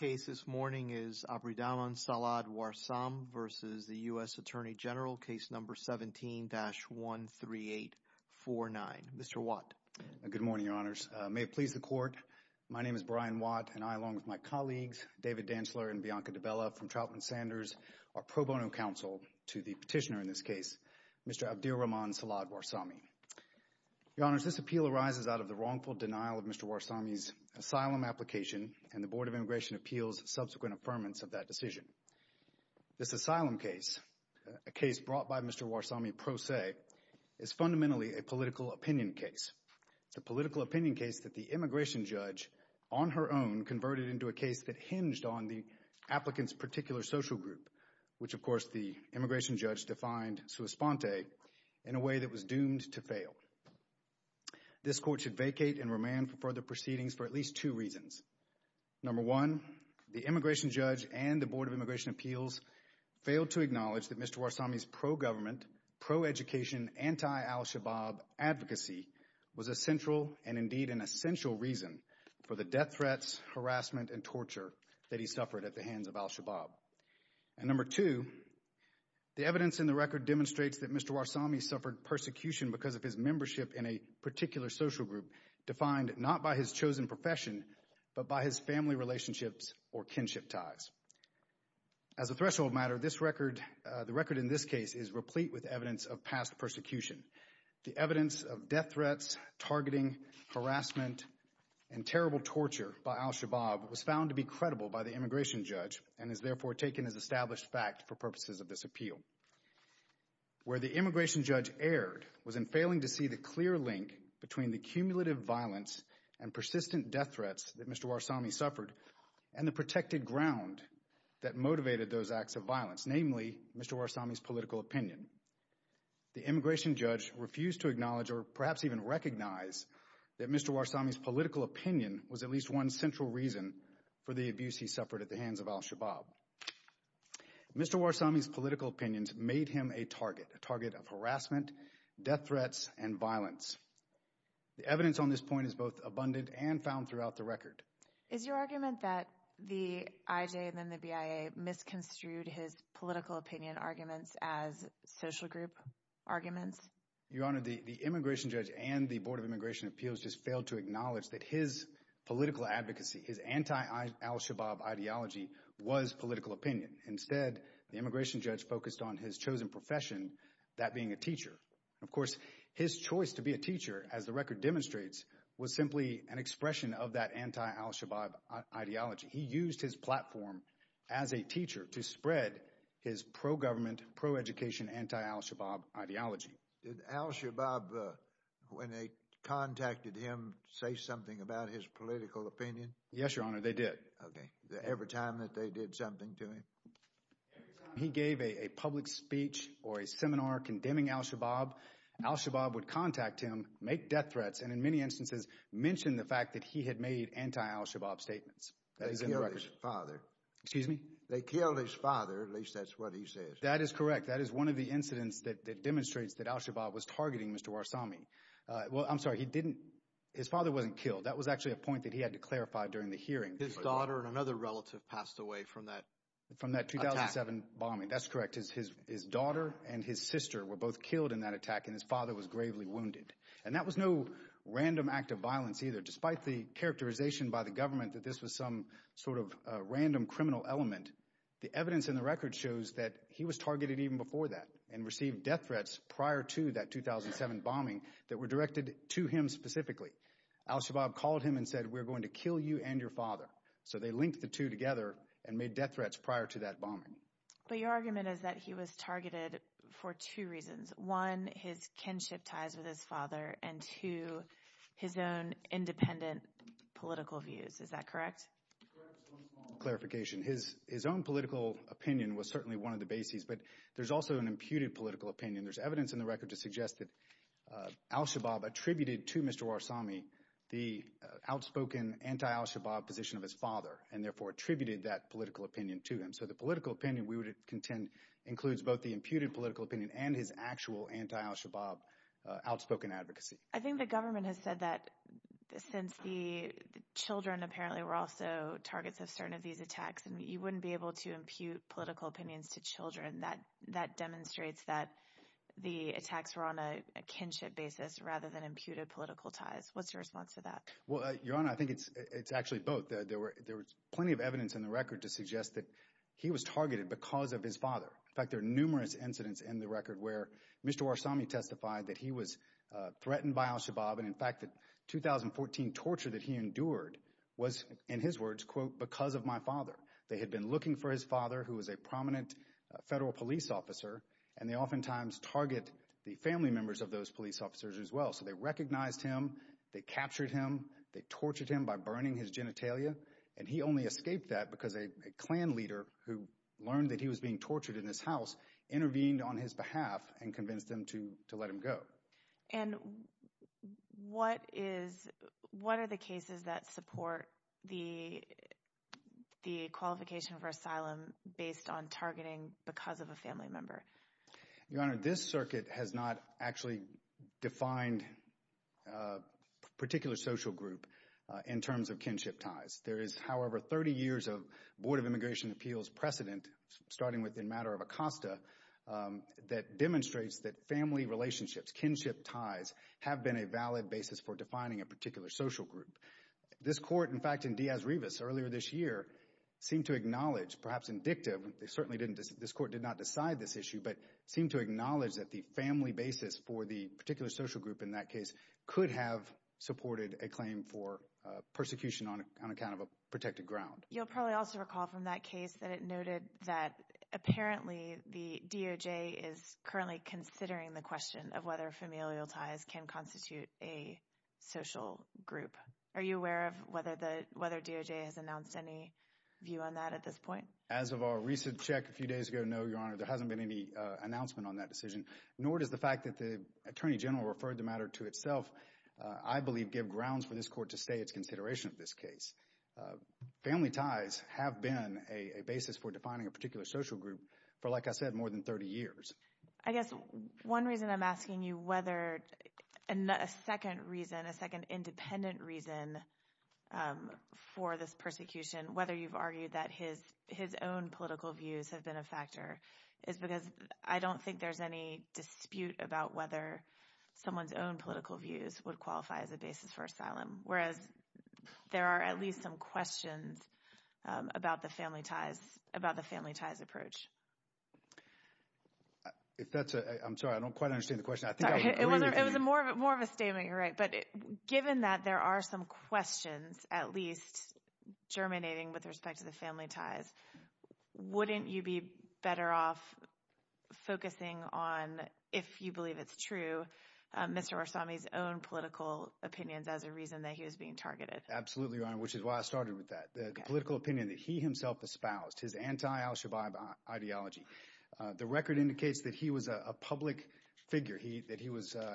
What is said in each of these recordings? is Abirahman Salah Warsame v. U.S. Attorney General, Case No. 17-13849. Mr. Watt. Good morning, Your Honors. May it please the Court, my name is Brian Watt and I, along with my colleagues David Dantzler and Bianca DiBella from Troutman Sanders, are pro bono counsel to the petitioner in this case, Mr. Abdirahman Salah Warsame. Your Honors, this appeal arises out of the wrongful denial of Mr. Warsame's asylum application and the Board of Immigration Appeals' subsequent affirmance of that decision. This asylum case, a case brought by Mr. Warsame pro se, is fundamentally a political opinion case. It's a political opinion case that the immigration judge, on her own, converted into a case that hinged on the applicant's particular social group, which, of course, the immigration judge defined sua sponte, in a way that was doomed to fail. This Court should vacate and remand for further proceedings for at least two reasons. Number one, the immigration judge and the Board of Immigration Appeals failed to acknowledge that Mr. Warsame's pro-government, pro-education, anti-al-Shabaab advocacy was a central and, indeed, an essential reason for the death threats, harassment, and torture that he suffered at the hands of al-Shabaab. And number two, the evidence in the record demonstrates that Mr. Warsame suffered persecution because of his membership in a particular social group defined not by his chosen profession, but by his family relationships or kinship ties. As a threshold matter, this record, the record in this case, is replete with evidence of past persecution. The evidence of death threats, targeting, harassment, and terrible torture by al-Shabaab was found to be credible by the immigration judge and is therefore taken as established fact for purposes of this appeal. Where the immigration judge erred was in failing to see the clear link between the cumulative violence and persistent death threats that Mr. Warsame suffered and the protected ground that motivated those acts of violence, namely Mr. Warsame's political opinion. The immigration judge refused to acknowledge or perhaps even recognize that Mr. Warsame's political opinion was at least one central reason for the abuse he suffered at the hands of al-Shabaab. Mr. Warsame's death threats and violence. The evidence on this point is both abundant and found throughout the record. Is your argument that the IJ and then the BIA misconstrued his political opinion arguments as social group arguments? Your Honor, the immigration judge and the Board of Immigration Appeals just failed to acknowledge that his political advocacy, his anti-al-Shabaab ideology was political opinion. Instead, the immigration judge focused on his chosen profession, that being a teacher. Of course, his choice to be a teacher, as the record demonstrates, was simply an expression of that anti-al-Shabaab ideology. He used his platform as a teacher to spread his pro-government, pro-education, anti-al-Shabaab ideology. Did al-Shabaab, when they contacted him, say something about his political opinion? Yes, Your Honor, they did. Okay. Every time that they did something to him? Every time he gave a public speech or a seminar condemning al-Shabaab, al-Shabaab would contact him, make death threats, and in many instances mention the fact that he had made anti-al-Shabaab statements. That is in the record. They killed his father. Excuse me? They killed his father, at least that's what he says. That is correct. That is one of the incidents that demonstrates that al-Shabaab was targeting Mr. Warsame. Well, I'm sorry, he didn't, his father wasn't killed. That was actually a point that he had to clarify during the hearing. His daughter and another relative passed away from that attack. From that 2007 bombing, that's correct. His daughter and his sister were both killed in that attack and his father was gravely wounded. And that was no random act of violence either. Despite the characterization by the government that this was some sort of random criminal element, the evidence in the record shows that he was targeted even before that and received death threats prior to that 2007 bombing that were directed to him specifically. Al-Shabaab called him and said, we're going to kill you and your father. So they linked the two together and made death threats prior to that bombing. But your argument is that he was targeted for two reasons. One, his kinship ties with his father, and two, his own independent political views. Is that correct? Correct, just one small clarification. His own political opinion was certainly one of the bases, but there's also an imputed political opinion. There's evidence in the record to show that Al-Shabaab attributed to Mr. Warsami the outspoken anti-Al-Shabaab position of his father and therefore attributed that political opinion to him. So the political opinion we would contend includes both the imputed political opinion and his actual anti-Al-Shabaab outspoken advocacy. I think the government has said that since the children apparently were also targets of certain of these attacks and you wouldn't be able to impute political opinions to children, that demonstrates that the attacks were on a kinship basis rather than imputed political ties. What's your response to that? Well, Your Honor, I think it's actually both. There was plenty of evidence in the record to suggest that he was targeted because of his father. In fact, there are numerous incidents in the record where Mr. Warsami testified that he was threatened by Al-Shabaab and in fact that 2014 torture that he endured was, in his words, quote, because of my father. They had been looking for his father who was a prominent federal police officer and they oftentimes target the family members of those police officers as well. So they recognized him, they captured him, they tortured him by burning his genitalia and he only escaped that because a Klan leader who learned that he was being tortured in his house intervened on his behalf and convinced them to let him go. And what are the cases that support the qualification for asylum based on targeting because of a family member? Your Honor, this circuit has not actually defined a particular social group in terms of kinship ties. There is, however, 30 years of Board of Immigration Appeals precedent, starting with the matter of Acosta, that demonstrates that family relationships, kinship ties, have been a valid basis for defining a particular social group. This Court, in fact, in Diaz-Rivas earlier this year, seemed to acknowledge, perhaps indicative, this Court did not decide this issue, but seemed to acknowledge that the family basis for the particular social group in that case could have supported a claim for persecution on account of a protected ground. You'll probably also recall from that case that it noted that apparently the DOJ is currently considering the question of whether familial ties can constitute a social group. Are you aware of whether the, whether DOJ has announced any view on that at this point? As of our recent check a few days ago, no, Your Honor, there hasn't been any announcement on that decision, nor does the fact that the Attorney General referred the matter to itself, I believe, give grounds for this Court to say it's consideration of this case. Family ties have been a basis for defining a particular social group for, like I said, more than 30 years. I guess one reason I'm asking you whether, a second reason, a second independent reason for this persecution, whether you've argued that his own political views have been a factor, is because I don't think there's any dispute about whether someone's own political views would qualify as a basis for asylum, whereas there are at least some questions about the family ties, about the family ties approach. If that's a, I'm sorry, I don't quite understand the question. It was more of a statement, you're right, but given that there are some questions, at least germinating with respect to the family ties, wouldn't you be better off focusing on, if you believe it's true, Mr. Warsami's own political opinions as a reason that he was being targeted? Absolutely, Your Honor, which is why I started with that. The political opinion that he himself espoused, his anti-al-Shabaab ideology. The record indicates that he was a public figure, that he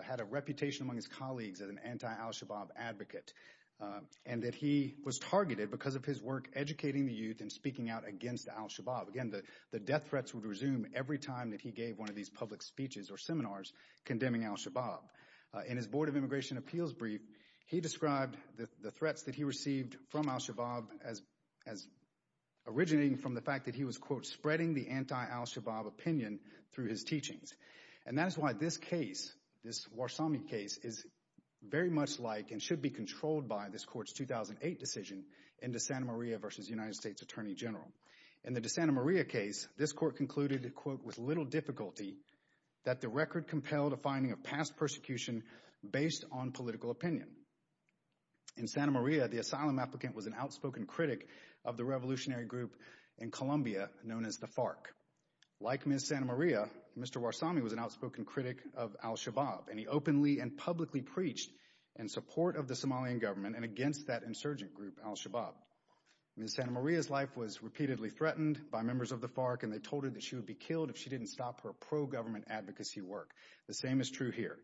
had a reputation among his colleagues as an anti-al-Shabaab advocate, and that he was targeted because of his work educating the youth and speaking out against al-Shabaab. Again, the death threats would resume every time that he gave one of these public speeches or seminars condemning al-Shabaab. In his Board of Immigration Appeals brief, he described the threats that he received from al-Shabaab as originating from the fact that he was, quote, spreading the anti-al-Shabaab opinion through his teachings. And that is why this case, this Warsami case, is very much like and should be controlled by this court's 2008 decision in De Santa Maria v. United States Attorney General. In the De Santa Maria case, this court concluded, quote, with little difficulty that the record compelled a finding of past persecution based on political opinion. In Santa Maria, the asylum applicant was an outspoken critic of the revolutionary group in Colombia known as the FARC. Like Ms. Santa Maria, Mr. Warsami was an outspoken critic of al-Shabaab, and he openly and publicly preached in support of the Somalian government and against that insurgent group al-Shabaab. Ms. Santa Maria's life was repeatedly threatened by members of the FARC, and they told her that she would be killed if she didn't stop her pro-government advocacy work. The same is true here.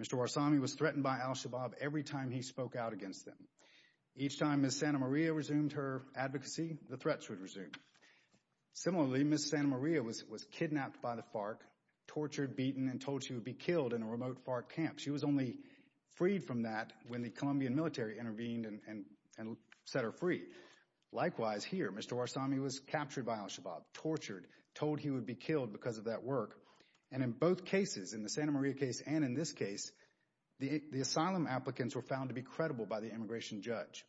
Mr. Warsami was threatened by al-Shabaab every time he spoke out against them. Each time Ms. Santa Maria resumed her advocacy, the threats would resume. Similarly, Ms. Santa Maria was kidnapped by the FARC, tortured, beaten, and told she would be killed in a remote FARC camp. She was only freed from that when the FARC intervened and set her free. Likewise here, Mr. Warsami was captured by al-Shabaab, tortured, told he would be killed because of that work, and in both cases, in the Santa Maria case and in this case, the asylum applicants were found to be credible by the immigration judge.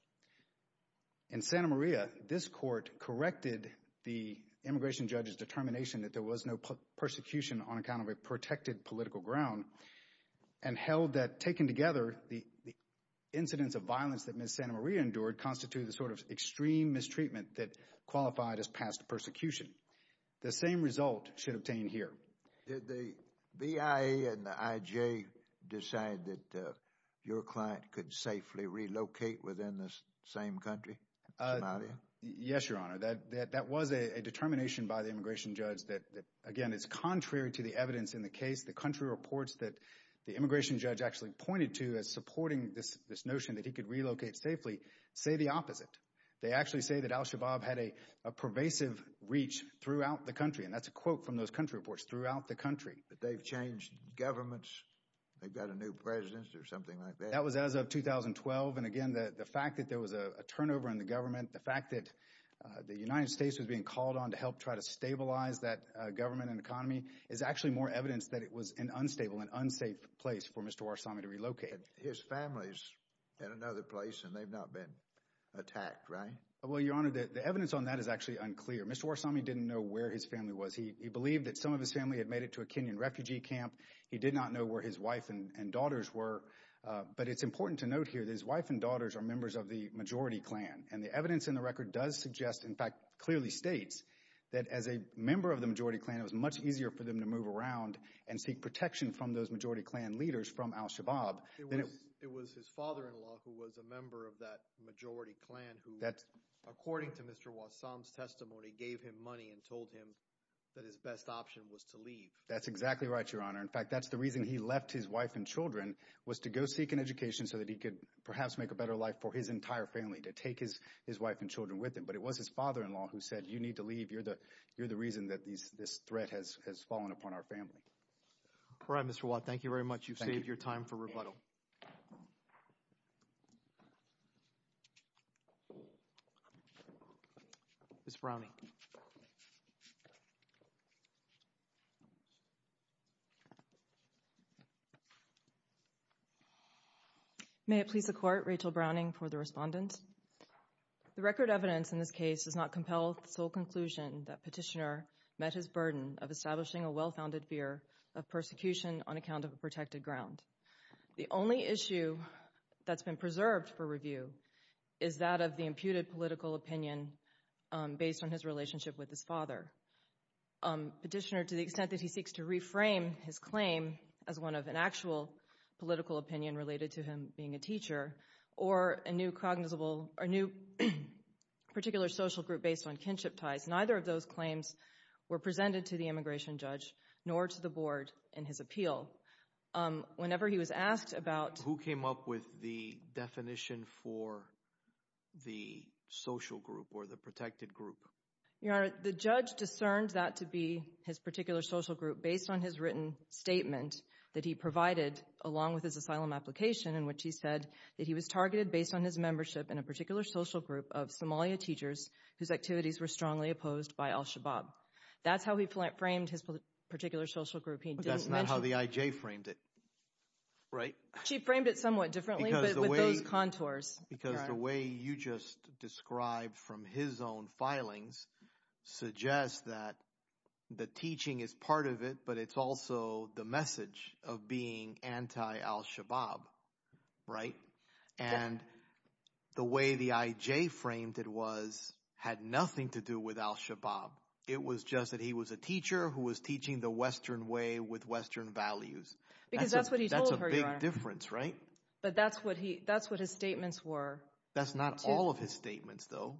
In Santa Maria, this court corrected the immigration judge's determination that there was no persecution on account of a protected political ground and held that, taken together, the incidents of violence that Ms. Santa Maria endured constituted the sort of extreme mistreatment that qualified as past persecution. The same result should obtain here. Did the BIA and the IJ decide that your client could safely relocate within the same country, Somalia? Yes, Your Honor. That was a determination by the immigration judge that, again, is contrary to the evidence in the case. The country reports that the immigration judge actually pointed to as supporting this notion that he could relocate safely say the opposite. They actually say that al-Shabaab had a pervasive reach throughout the country, and that's a quote from those country reports, throughout the country. But they've changed governments. They've got a new president or something like that. That was as of 2012, and again, the fact that there was a turnover in the government, the fact that the United States was being called on to help try to stabilize that government and economy is actually more evidence that it was an unstable and unsafe place for Mr. Warsami to relocate. His family's in another place, and they've not been attacked, right? Well, Your Honor, the evidence on that is actually unclear. Mr. Warsami didn't know where his family was. He believed that some of his family had made it to a Kenyan refugee camp. He did not know where his wife and daughters were. But it's important to note here that his wife and daughters are members of the majority clan, and the evidence in the record does suggest, in fact, clearly states that as a member of the majority clan, it was much easier for them to move around and seek protection from those majority clan leaders from al-Shabaab. It was his father-in-law who was a member of that majority clan who, according to Mr. Warsami's testimony, gave him money and told him that his best option was to leave. That's exactly right, Your Honor. In fact, that's the reason he left his wife and children, was to go seek an education so that he could perhaps make a better life for his entire family, to take his wife and children with him. But it was his father-in-law who said, you need to leave. You're the reason that this threat has fallen upon our family. All right, Mr. Watt. Thank you very much. You've saved your time for rebuttal. Ms. Browning. May it please the Court, Rachel Browning for the respondent. The record evidence in this case does not compel the sole conclusion that Petitioner met his burden of establishing a well-founded fear of persecution on account of a protected ground. The only issue that's been preserved for review is that of the imputed political opinion based on his relationship with his father. Petitioner, to the extent that he seeks to reframe his claim as one of an actual political opinion related to him being a teacher or a new particular social group based on kinship ties, neither of those claims were presented to the immigration judge nor to the Board in his appeal. Whenever he was asked about— Your Honor, the judge discerned that to be his particular social group based on his written statement that he provided along with his asylum application in which he said that he was targeted based on his membership in a particular social group of Somalia teachers whose activities were strongly opposed by al-Shabaab. That's how he framed his particular social group. But that's not how the IJ framed it, right? She framed it somewhat differently with those contours. Because the way you just described from his own filings suggests that the teaching is part of it, but it's also the message of being anti-al-Shabaab, right? And the way the IJ framed it was—had nothing to do with al-Shabaab. It was just that he was a teacher who was teaching the Western way with Western values. Because that's what he told her, Your Honor. That's a big difference, right? But that's what his statements were. That's not all of his statements, though.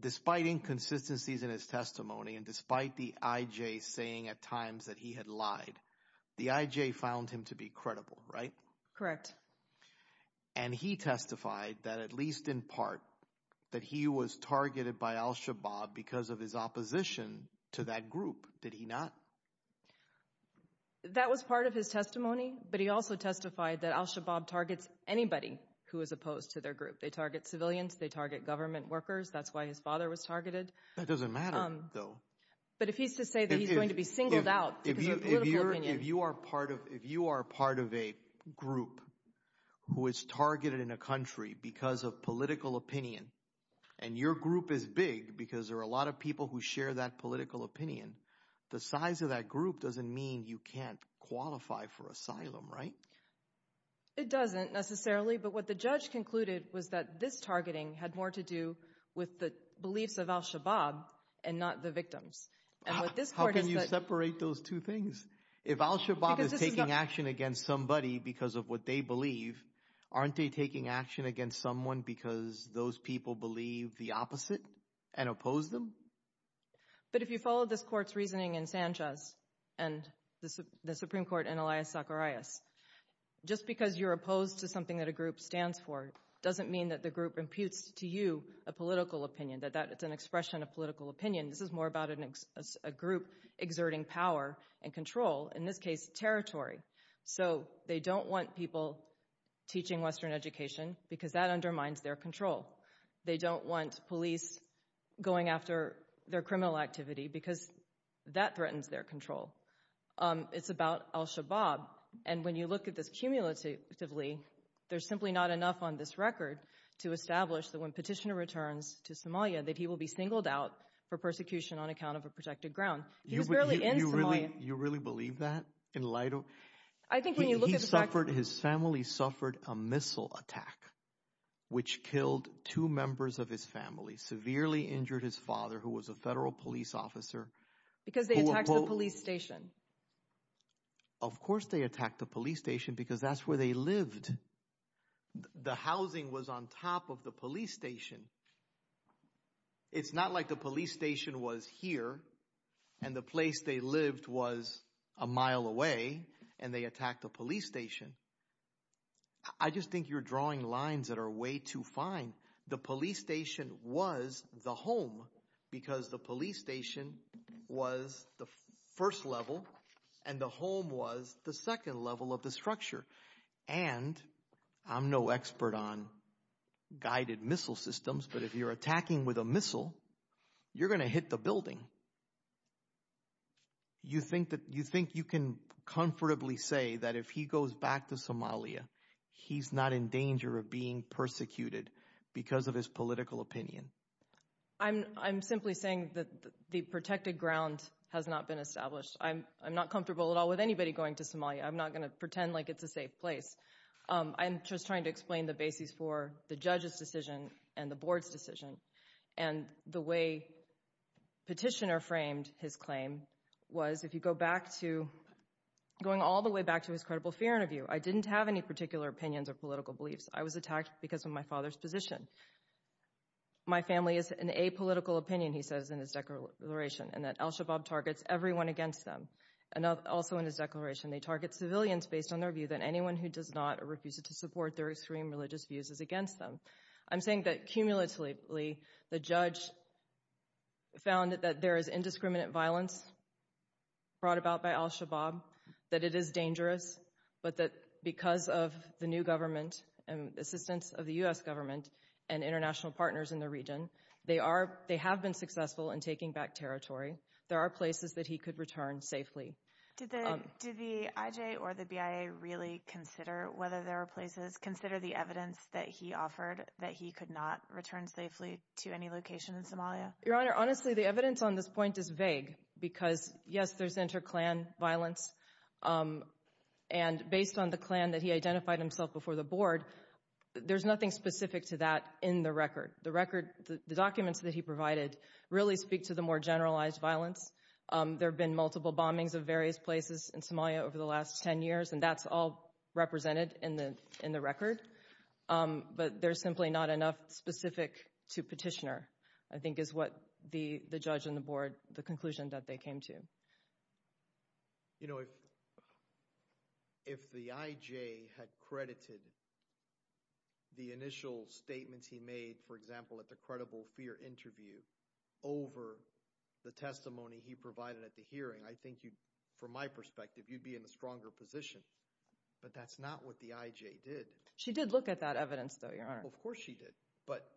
Despite inconsistencies in his testimony and despite the IJ saying at times that he had lied, the IJ found him to be credible, right? Correct. And he testified that at least in part that he was targeted by al-Shabaab because of his opposition to that group, did he not? That was part of his testimony, but he also testified that al-Shabaab targets anybody who is opposed to their group. They target civilians. They target government workers. That's why his father was targeted. That doesn't matter, though. But if he's to say that he's going to be singled out— If you are part of a group who is targeted in a country because of political opinion, and your group is big because there are a lot of people who share that political opinion, the size of that group doesn't mean you can't qualify for asylum, right? It doesn't necessarily, but what the judge concluded was that this targeting had more to do with the beliefs of al-Shabaab and not the victims. How can you separate those two things? If al-Shabaab is taking action against somebody because of what they believe, aren't they taking action against someone because those people believe the opposite and oppose them? But if you follow this court's reasoning in Sanchez and the Supreme Court in Elias Zacharias, just because you're opposed to something that a group stands for doesn't mean that the group imputes to you a political opinion, that it's an expression of political opinion. This is more about a group exerting power and control, in this case territory. So they don't want people teaching Western education because that undermines their control. They don't want police going after their criminal activity because that threatens their control. It's about al-Shabaab, and when you look at this cumulatively, there's simply not enough on this record to establish that when Petitioner returns to Somalia that he will be singled out for persecution on account of a protected ground. He was barely in Somalia. You really believe that in light of... His family suffered a missile attack, which killed two members of his family, severely injured his father, who was a federal police officer. Because they attacked the police station. Of course they attacked the police station because that's where they lived. The housing was on top of the police station. It's not like the police station was here and the place they lived was a mile away and they attacked the police station. I just think you're drawing lines that are way too fine. The police station was the home because the police station was the first level and the home was the second level of the structure. And I'm no expert on guided missile systems, but if you're attacking with a missile, you're going to hit the building. You think you can comfortably say that if he goes back to Somalia, he's not in danger of being persecuted because of his political opinion? I'm simply saying that the protected ground has not been established. I'm not comfortable at all with anybody going to Somalia. I'm not going to pretend like it's a safe place. I'm just trying to explain the basis for the judge's decision and the board's decision. And the way Petitioner framed his claim was if you go back to... Going all the way back to his credible fear interview, I didn't have any particular opinions or political beliefs. I was attacked because of my father's position. My family is an apolitical opinion, he says in his declaration, and that al-Shabaab targets everyone against them. And also in his declaration, they target civilians based on their view that anyone who does not or refuses to support their extreme religious views is against them. I'm saying that cumulatively, the judge found that there is indiscriminate violence brought about by al-Shabaab, that it is dangerous, but that because of the new government and assistance of the U.S. government and international partners in the region, they have been successful in taking back territory. There are places that he could return safely. Do the IJ or the BIA really consider whether there are places, consider the evidence that he offered that he could not return safely to any location in Somalia? Your Honor, honestly, the evidence on this point is vague, because yes, there's inter-Klan violence. And based on the Klan that he identified himself before the board, there's nothing specific to that in the record. The record, the documents that he provided really speak to the more generalized violence. There have been multiple bombings of various places in Somalia over the last 10 years, and that's all represented in the record. But there's simply not enough specific to petitioner, I think is what the judge and the board, the conclusion that they came to. You know, if the IJ had credited the initial statements he made, for example, at the credible fear interview over the testimony he provided at the hearing, I think you'd, from my perspective, you'd be in a stronger position. But that's not what the IJ did. She did look at that evidence, though, Your Honor. Of course she did. But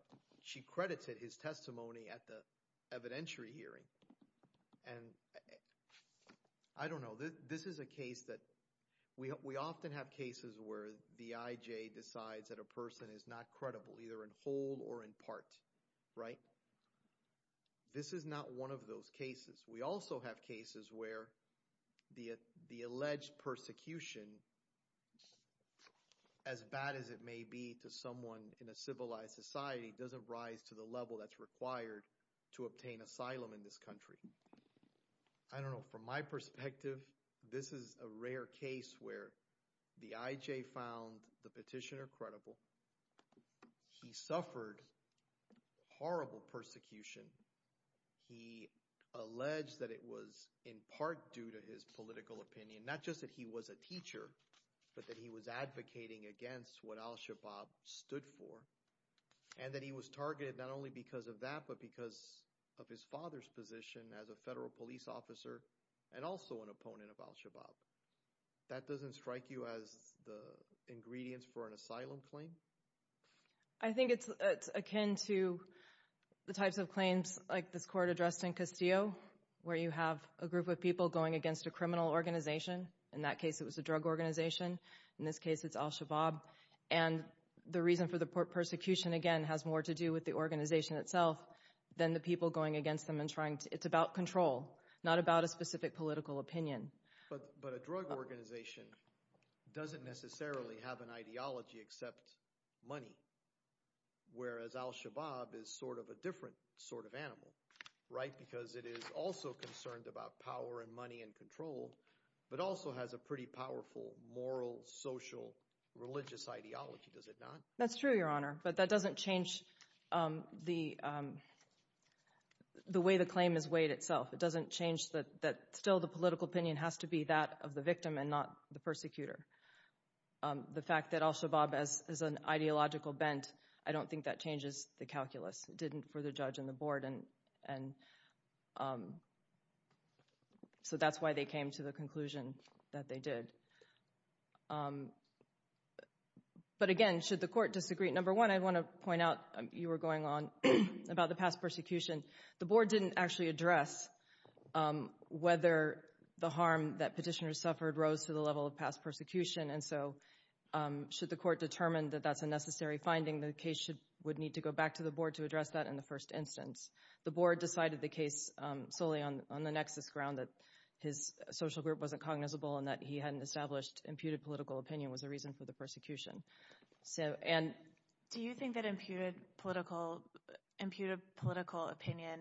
she credited his testimony at the evidentiary hearing. And I don't know. This is a case that, we often have cases where the IJ decides that a person is not in part, right? This is not one of those cases. We also have cases where the alleged persecution, as bad as it may be to someone in a civilized society, doesn't rise to the level that's required to obtain asylum in this country. I don't know. From my perspective, this is a rare case where the IJ found the petitioner credible. He suffered horrible persecution. He alleged that it was in part due to his political opinion, not just that he was a teacher, but that he was advocating against what al-Shabaab stood for, and that he was targeted not only because of that, but because of his father's position as a federal police officer, and also an opponent of al-Shabaab. That doesn't strike you as the ingredients for an asylum claim? I think it's akin to the types of claims like this court addressed in Castillo, where you have a group of people going against a criminal organization. In that case, it was a drug organization. In this case, it's al-Shabaab. And the reason for the persecution, again, has more to do with the organization itself than the people going against them and trying to, it's about control, not about a specific political opinion. But a drug organization doesn't necessarily have an ideology except money, whereas al-Shabaab is sort of a different sort of animal, right? Because it is also concerned about power and money and control, but also has a pretty powerful moral, social, religious ideology, does it not? That's true, Your Honor. But that doesn't change the way the claim is weighed itself. That still the political opinion has to be that of the victim and not the persecutor. The fact that al-Shabaab is an ideological bent, I don't think that changes the calculus. It didn't for the judge and the board. So that's why they came to the conclusion that they did. But again, should the court disagree? Number one, I want to point out, you were going on about the past persecution. The board didn't actually address whether the harm that petitioners suffered rose to the level of past persecution. And so should the court determine that that's a necessary finding, the case would need to go back to the board to address that in the first instance. The board decided the case solely on the nexus ground, that his social group wasn't cognizable and that he hadn't established imputed political opinion was the reason for the persecution. So, and... Do you think that imputed political opinion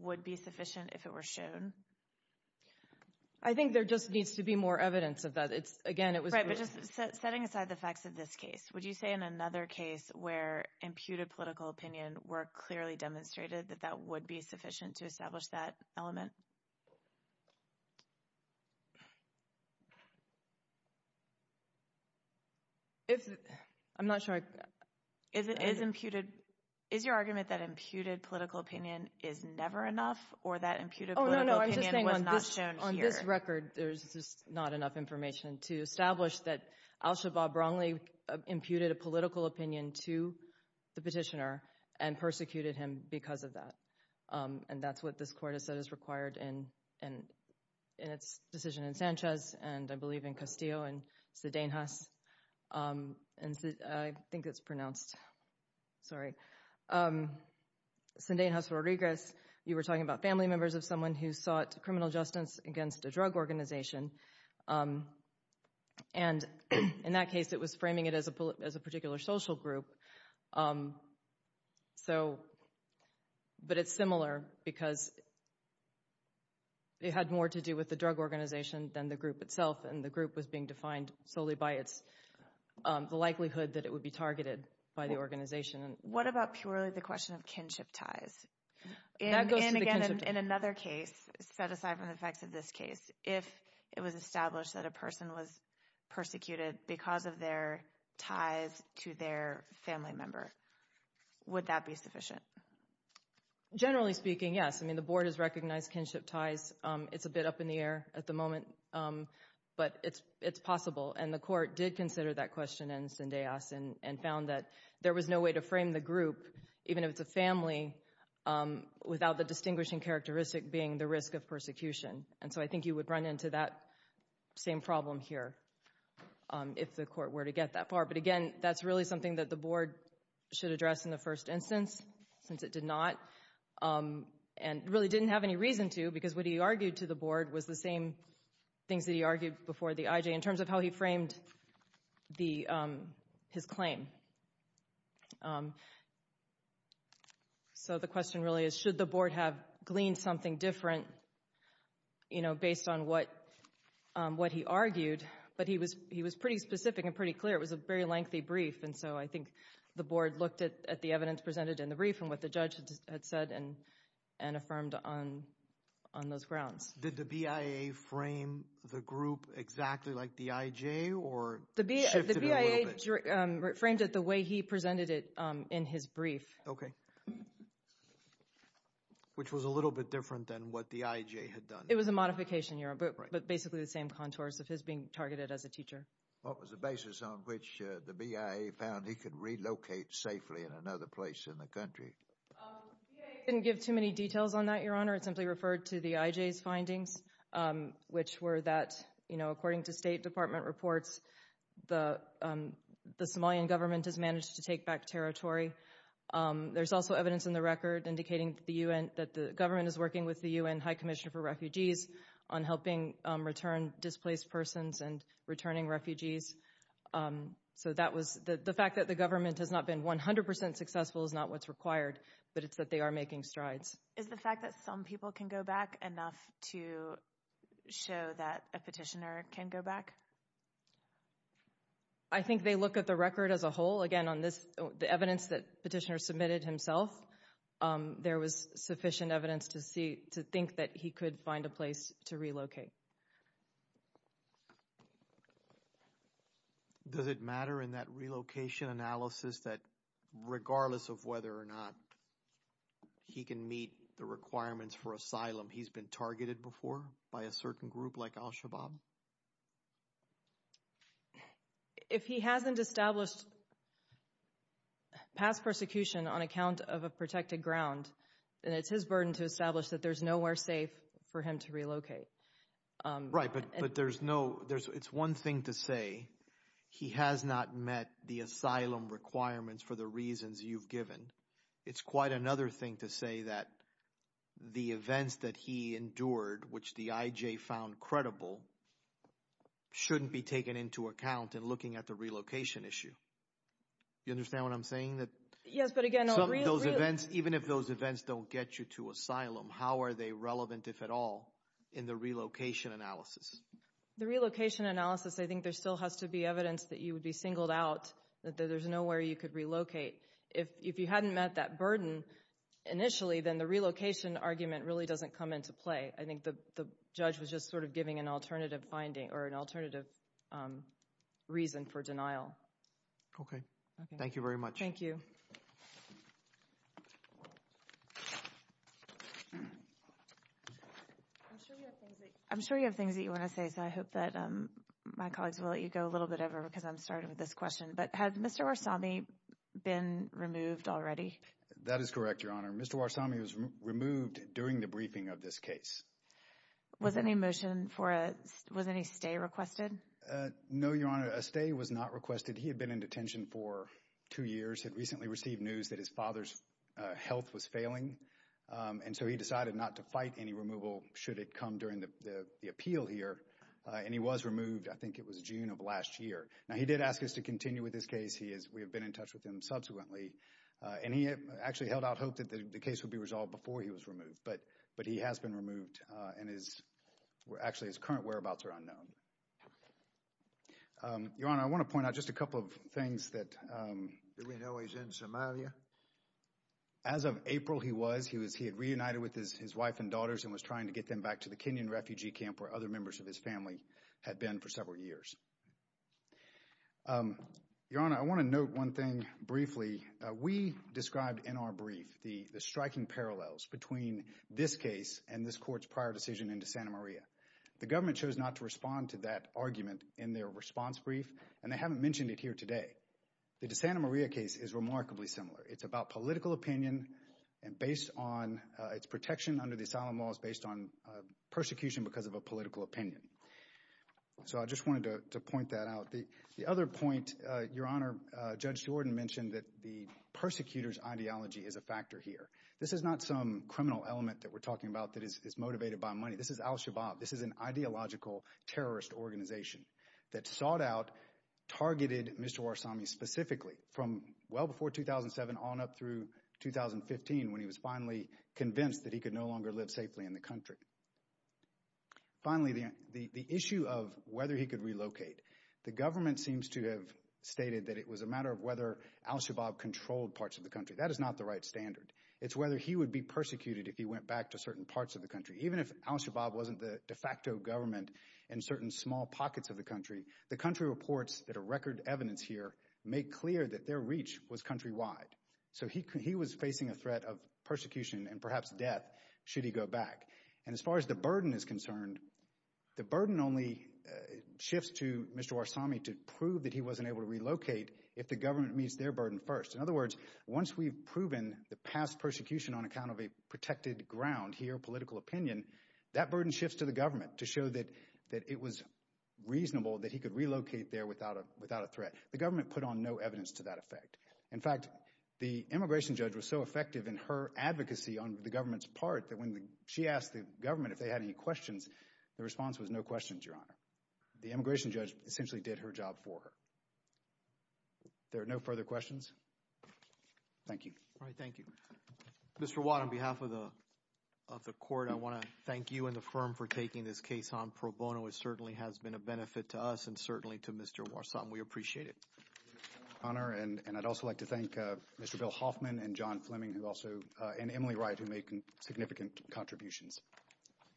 would be sufficient if it were shown? I think there just needs to be more evidence of that. It's, again, it was... Right, but just setting aside the facts of this case, would you say in another case where imputed political opinion were clearly demonstrated that that would be sufficient to establish that element? If, I'm not sure I... Is it, is imputed, is your argument that imputed political opinion is never enough or that imputed political opinion was not shown here? Oh, no, no, I'm just saying on this record, there's just not enough information to establish that Al-Shabaab wrongly imputed a political opinion to the petitioner and persecuted him because of that. And that's what this court has said is required to do. And in its decision in Sanchez, and I believe in Castillo and Sidenhas, and I think it's pronounced, sorry, Sidenhas Rodriguez, you were talking about family members of someone who sought criminal justice against a drug organization. And in that case, it was framing it as a particular social group. Um, so, but it's similar because it had more to do with the drug organization than the group itself. And the group was being defined solely by its, the likelihood that it would be targeted by the organization. What about purely the question of kinship ties? And again, in another case, set aside from the facts of this case, if it was established that a person was persecuted because of their ties to their family member, would that be sufficient? Generally speaking, yes. I mean, the board has recognized kinship ties. It's a bit up in the air at the moment, but it's possible. And the court did consider that question in Sidenhas and found that there was no way to frame the group, even if it's a family, without the distinguishing characteristic being the risk of persecution. And so I think you would run into that same problem here. If the court were to get that far. But again, that's really something that the board should address in the first instance, since it did not. And really didn't have any reason to, because what he argued to the board was the same things that he argued before the IJ in terms of how he framed his claim. So the question really is, should the board have gleaned something different, you know, based on what he argued? But he was pretty specific and pretty clear. It was a very lengthy brief. And so I think the board looked at the evidence presented in the brief and what the judge had said and affirmed on those grounds. Did the BIA frame the group exactly like the IJ? Or shifted a little bit? The BIA framed it the way he presented it in his brief. Okay. Which was a little bit different than what the IJ had done. It was a modification, Your Honor, but basically the same contours of his being targeted as a teacher. What was the basis on which the BIA found he could relocate safely in another place in the country? The BIA didn't give too many details on that, Your Honor. It simply referred to the IJ's findings, which were that, you know, according to State Department reports, the Somalian government has managed to take back territory. There's also evidence in the record indicating that the UN, that the government is working with the UN High Commissioner for Refugees on helping return displaced persons and returning refugees. So that was, the fact that the government has not been 100% successful is not what's required, but it's that they are making strides. Is the fact that some people can go back enough to show that a petitioner can go back? I think they look at the record as a whole. Again, on this, the evidence that petitioner submitted himself, there was sufficient evidence to see, to think that he could find a place to relocate. Does it matter in that relocation analysis that regardless of whether or not he can meet the requirements for asylum, he's been targeted before by a certain group like al-Shabaab? If he hasn't established past persecution on account of a protected ground, then it's his burden to establish that there's nowhere safe for him to relocate. Right, but there's no, there's, it's one thing to say, he has not met the asylum requirements for the reasons you've given. It's quite another thing to say that the events that he endured, which the IJ found credible, shouldn't be taken into account in looking at the relocation issue. You understand what I'm saying? That, yes, but again, those events, even if those events don't get you to asylum, how are they relevant, if at all, in the relocation analysis? The relocation analysis, I think there still has to be evidence that you would be singled out, that there's nowhere you could relocate. If you hadn't met that burden initially, then the relocation argument really doesn't come into play. I think the judge was just sort of giving an alternative finding or an alternative reason for denial. Okay, thank you very much. Thank you. I'm sure you have things that you want to say, so I hope that my colleagues will let you go a little bit over because I'm starting with this question, but has Mr. Warsami been removed already? That is correct, Your Honor. Mr. Warsami was removed during the briefing of this case. Was any motion for a, was any stay requested? No, Your Honor, a stay was not requested. He had been in detention for two years, had recently received news that his father's health was failing, and so he decided not to fight any removal should it come during the appeal here, and he was removed, I think it was June of last year. Now, he did ask us to continue with this case. He is, we have been in touch with him subsequently, and he actually held out hope that the case would be resolved before he was removed, but he has been removed, and his, actually, his current whereabouts are unknown. Your Honor, I want to point out just a couple of things that... Do we know he's in Somalia? As of April, he was. He was, he had reunited with his wife and daughters and was trying to get them back to the Kenyan refugee camp where other members of his family had been for several years. Your Honor, I want to note one thing briefly. We described in our brief the striking parallels between this case and this court's prior decision into Santa Maria. The government chose not to respond to that argument in their response brief, and they haven't mentioned it here today. The Santa Maria case is remarkably similar. It's about political opinion, and based on its protection under the asylum laws based on persecution because of a political opinion. So I just wanted to point that out. The other point, Your Honor, Judge Jordan mentioned that the persecutor's ideology is a factor here. This is not some criminal element that we're talking about that is motivated by money. This is al-Shabaab. This is an ideological terrorist organization that sought out, targeted Mr. Warsami specifically from well before 2007 on up through 2015 when he was finally convinced that he could no longer live safely in the country. Finally, the issue of whether he could relocate. The government seems to have stated that it was a matter of whether al-Shabaab controlled parts of the country. That is not the right standard. It's whether he would be persecuted if he went back to certain parts of the country. Even if al-Shabaab wasn't the de facto government in certain small pockets of the country, the country reports that a record evidence here made clear that their reach was countrywide. So he was facing a threat of persecution and perhaps death should he go back. And as far as the burden is concerned, the burden only shifts to Mr. Warsami to prove that he wasn't able to relocate if the government meets their burden first. In other words, once we've proven the past persecution on account of a protected ground here, political opinion, that burden shifts to the government to show that it was reasonable that he could relocate there without a threat. The government put on no evidence to that effect. In fact, the immigration judge was so effective in her advocacy on the government's part that when she asked the government if they had any questions, the response was no questions, Your Honor. The immigration judge essentially did her job for her. There are no further questions. Thank you. All right, thank you. Mr. Watt, on behalf of the court, I want to thank you and the firm for taking this case on pro bono. It certainly has been a benefit to us and certainly to Mr. Warsami. We appreciate it. Thank you, Your Honor. And I'd also like to thank Mr. Bill Hoffman and John Fleming and Emily Wright who made significant contributions.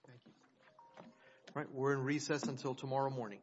Thank you. All right, we're in recess until tomorrow morning.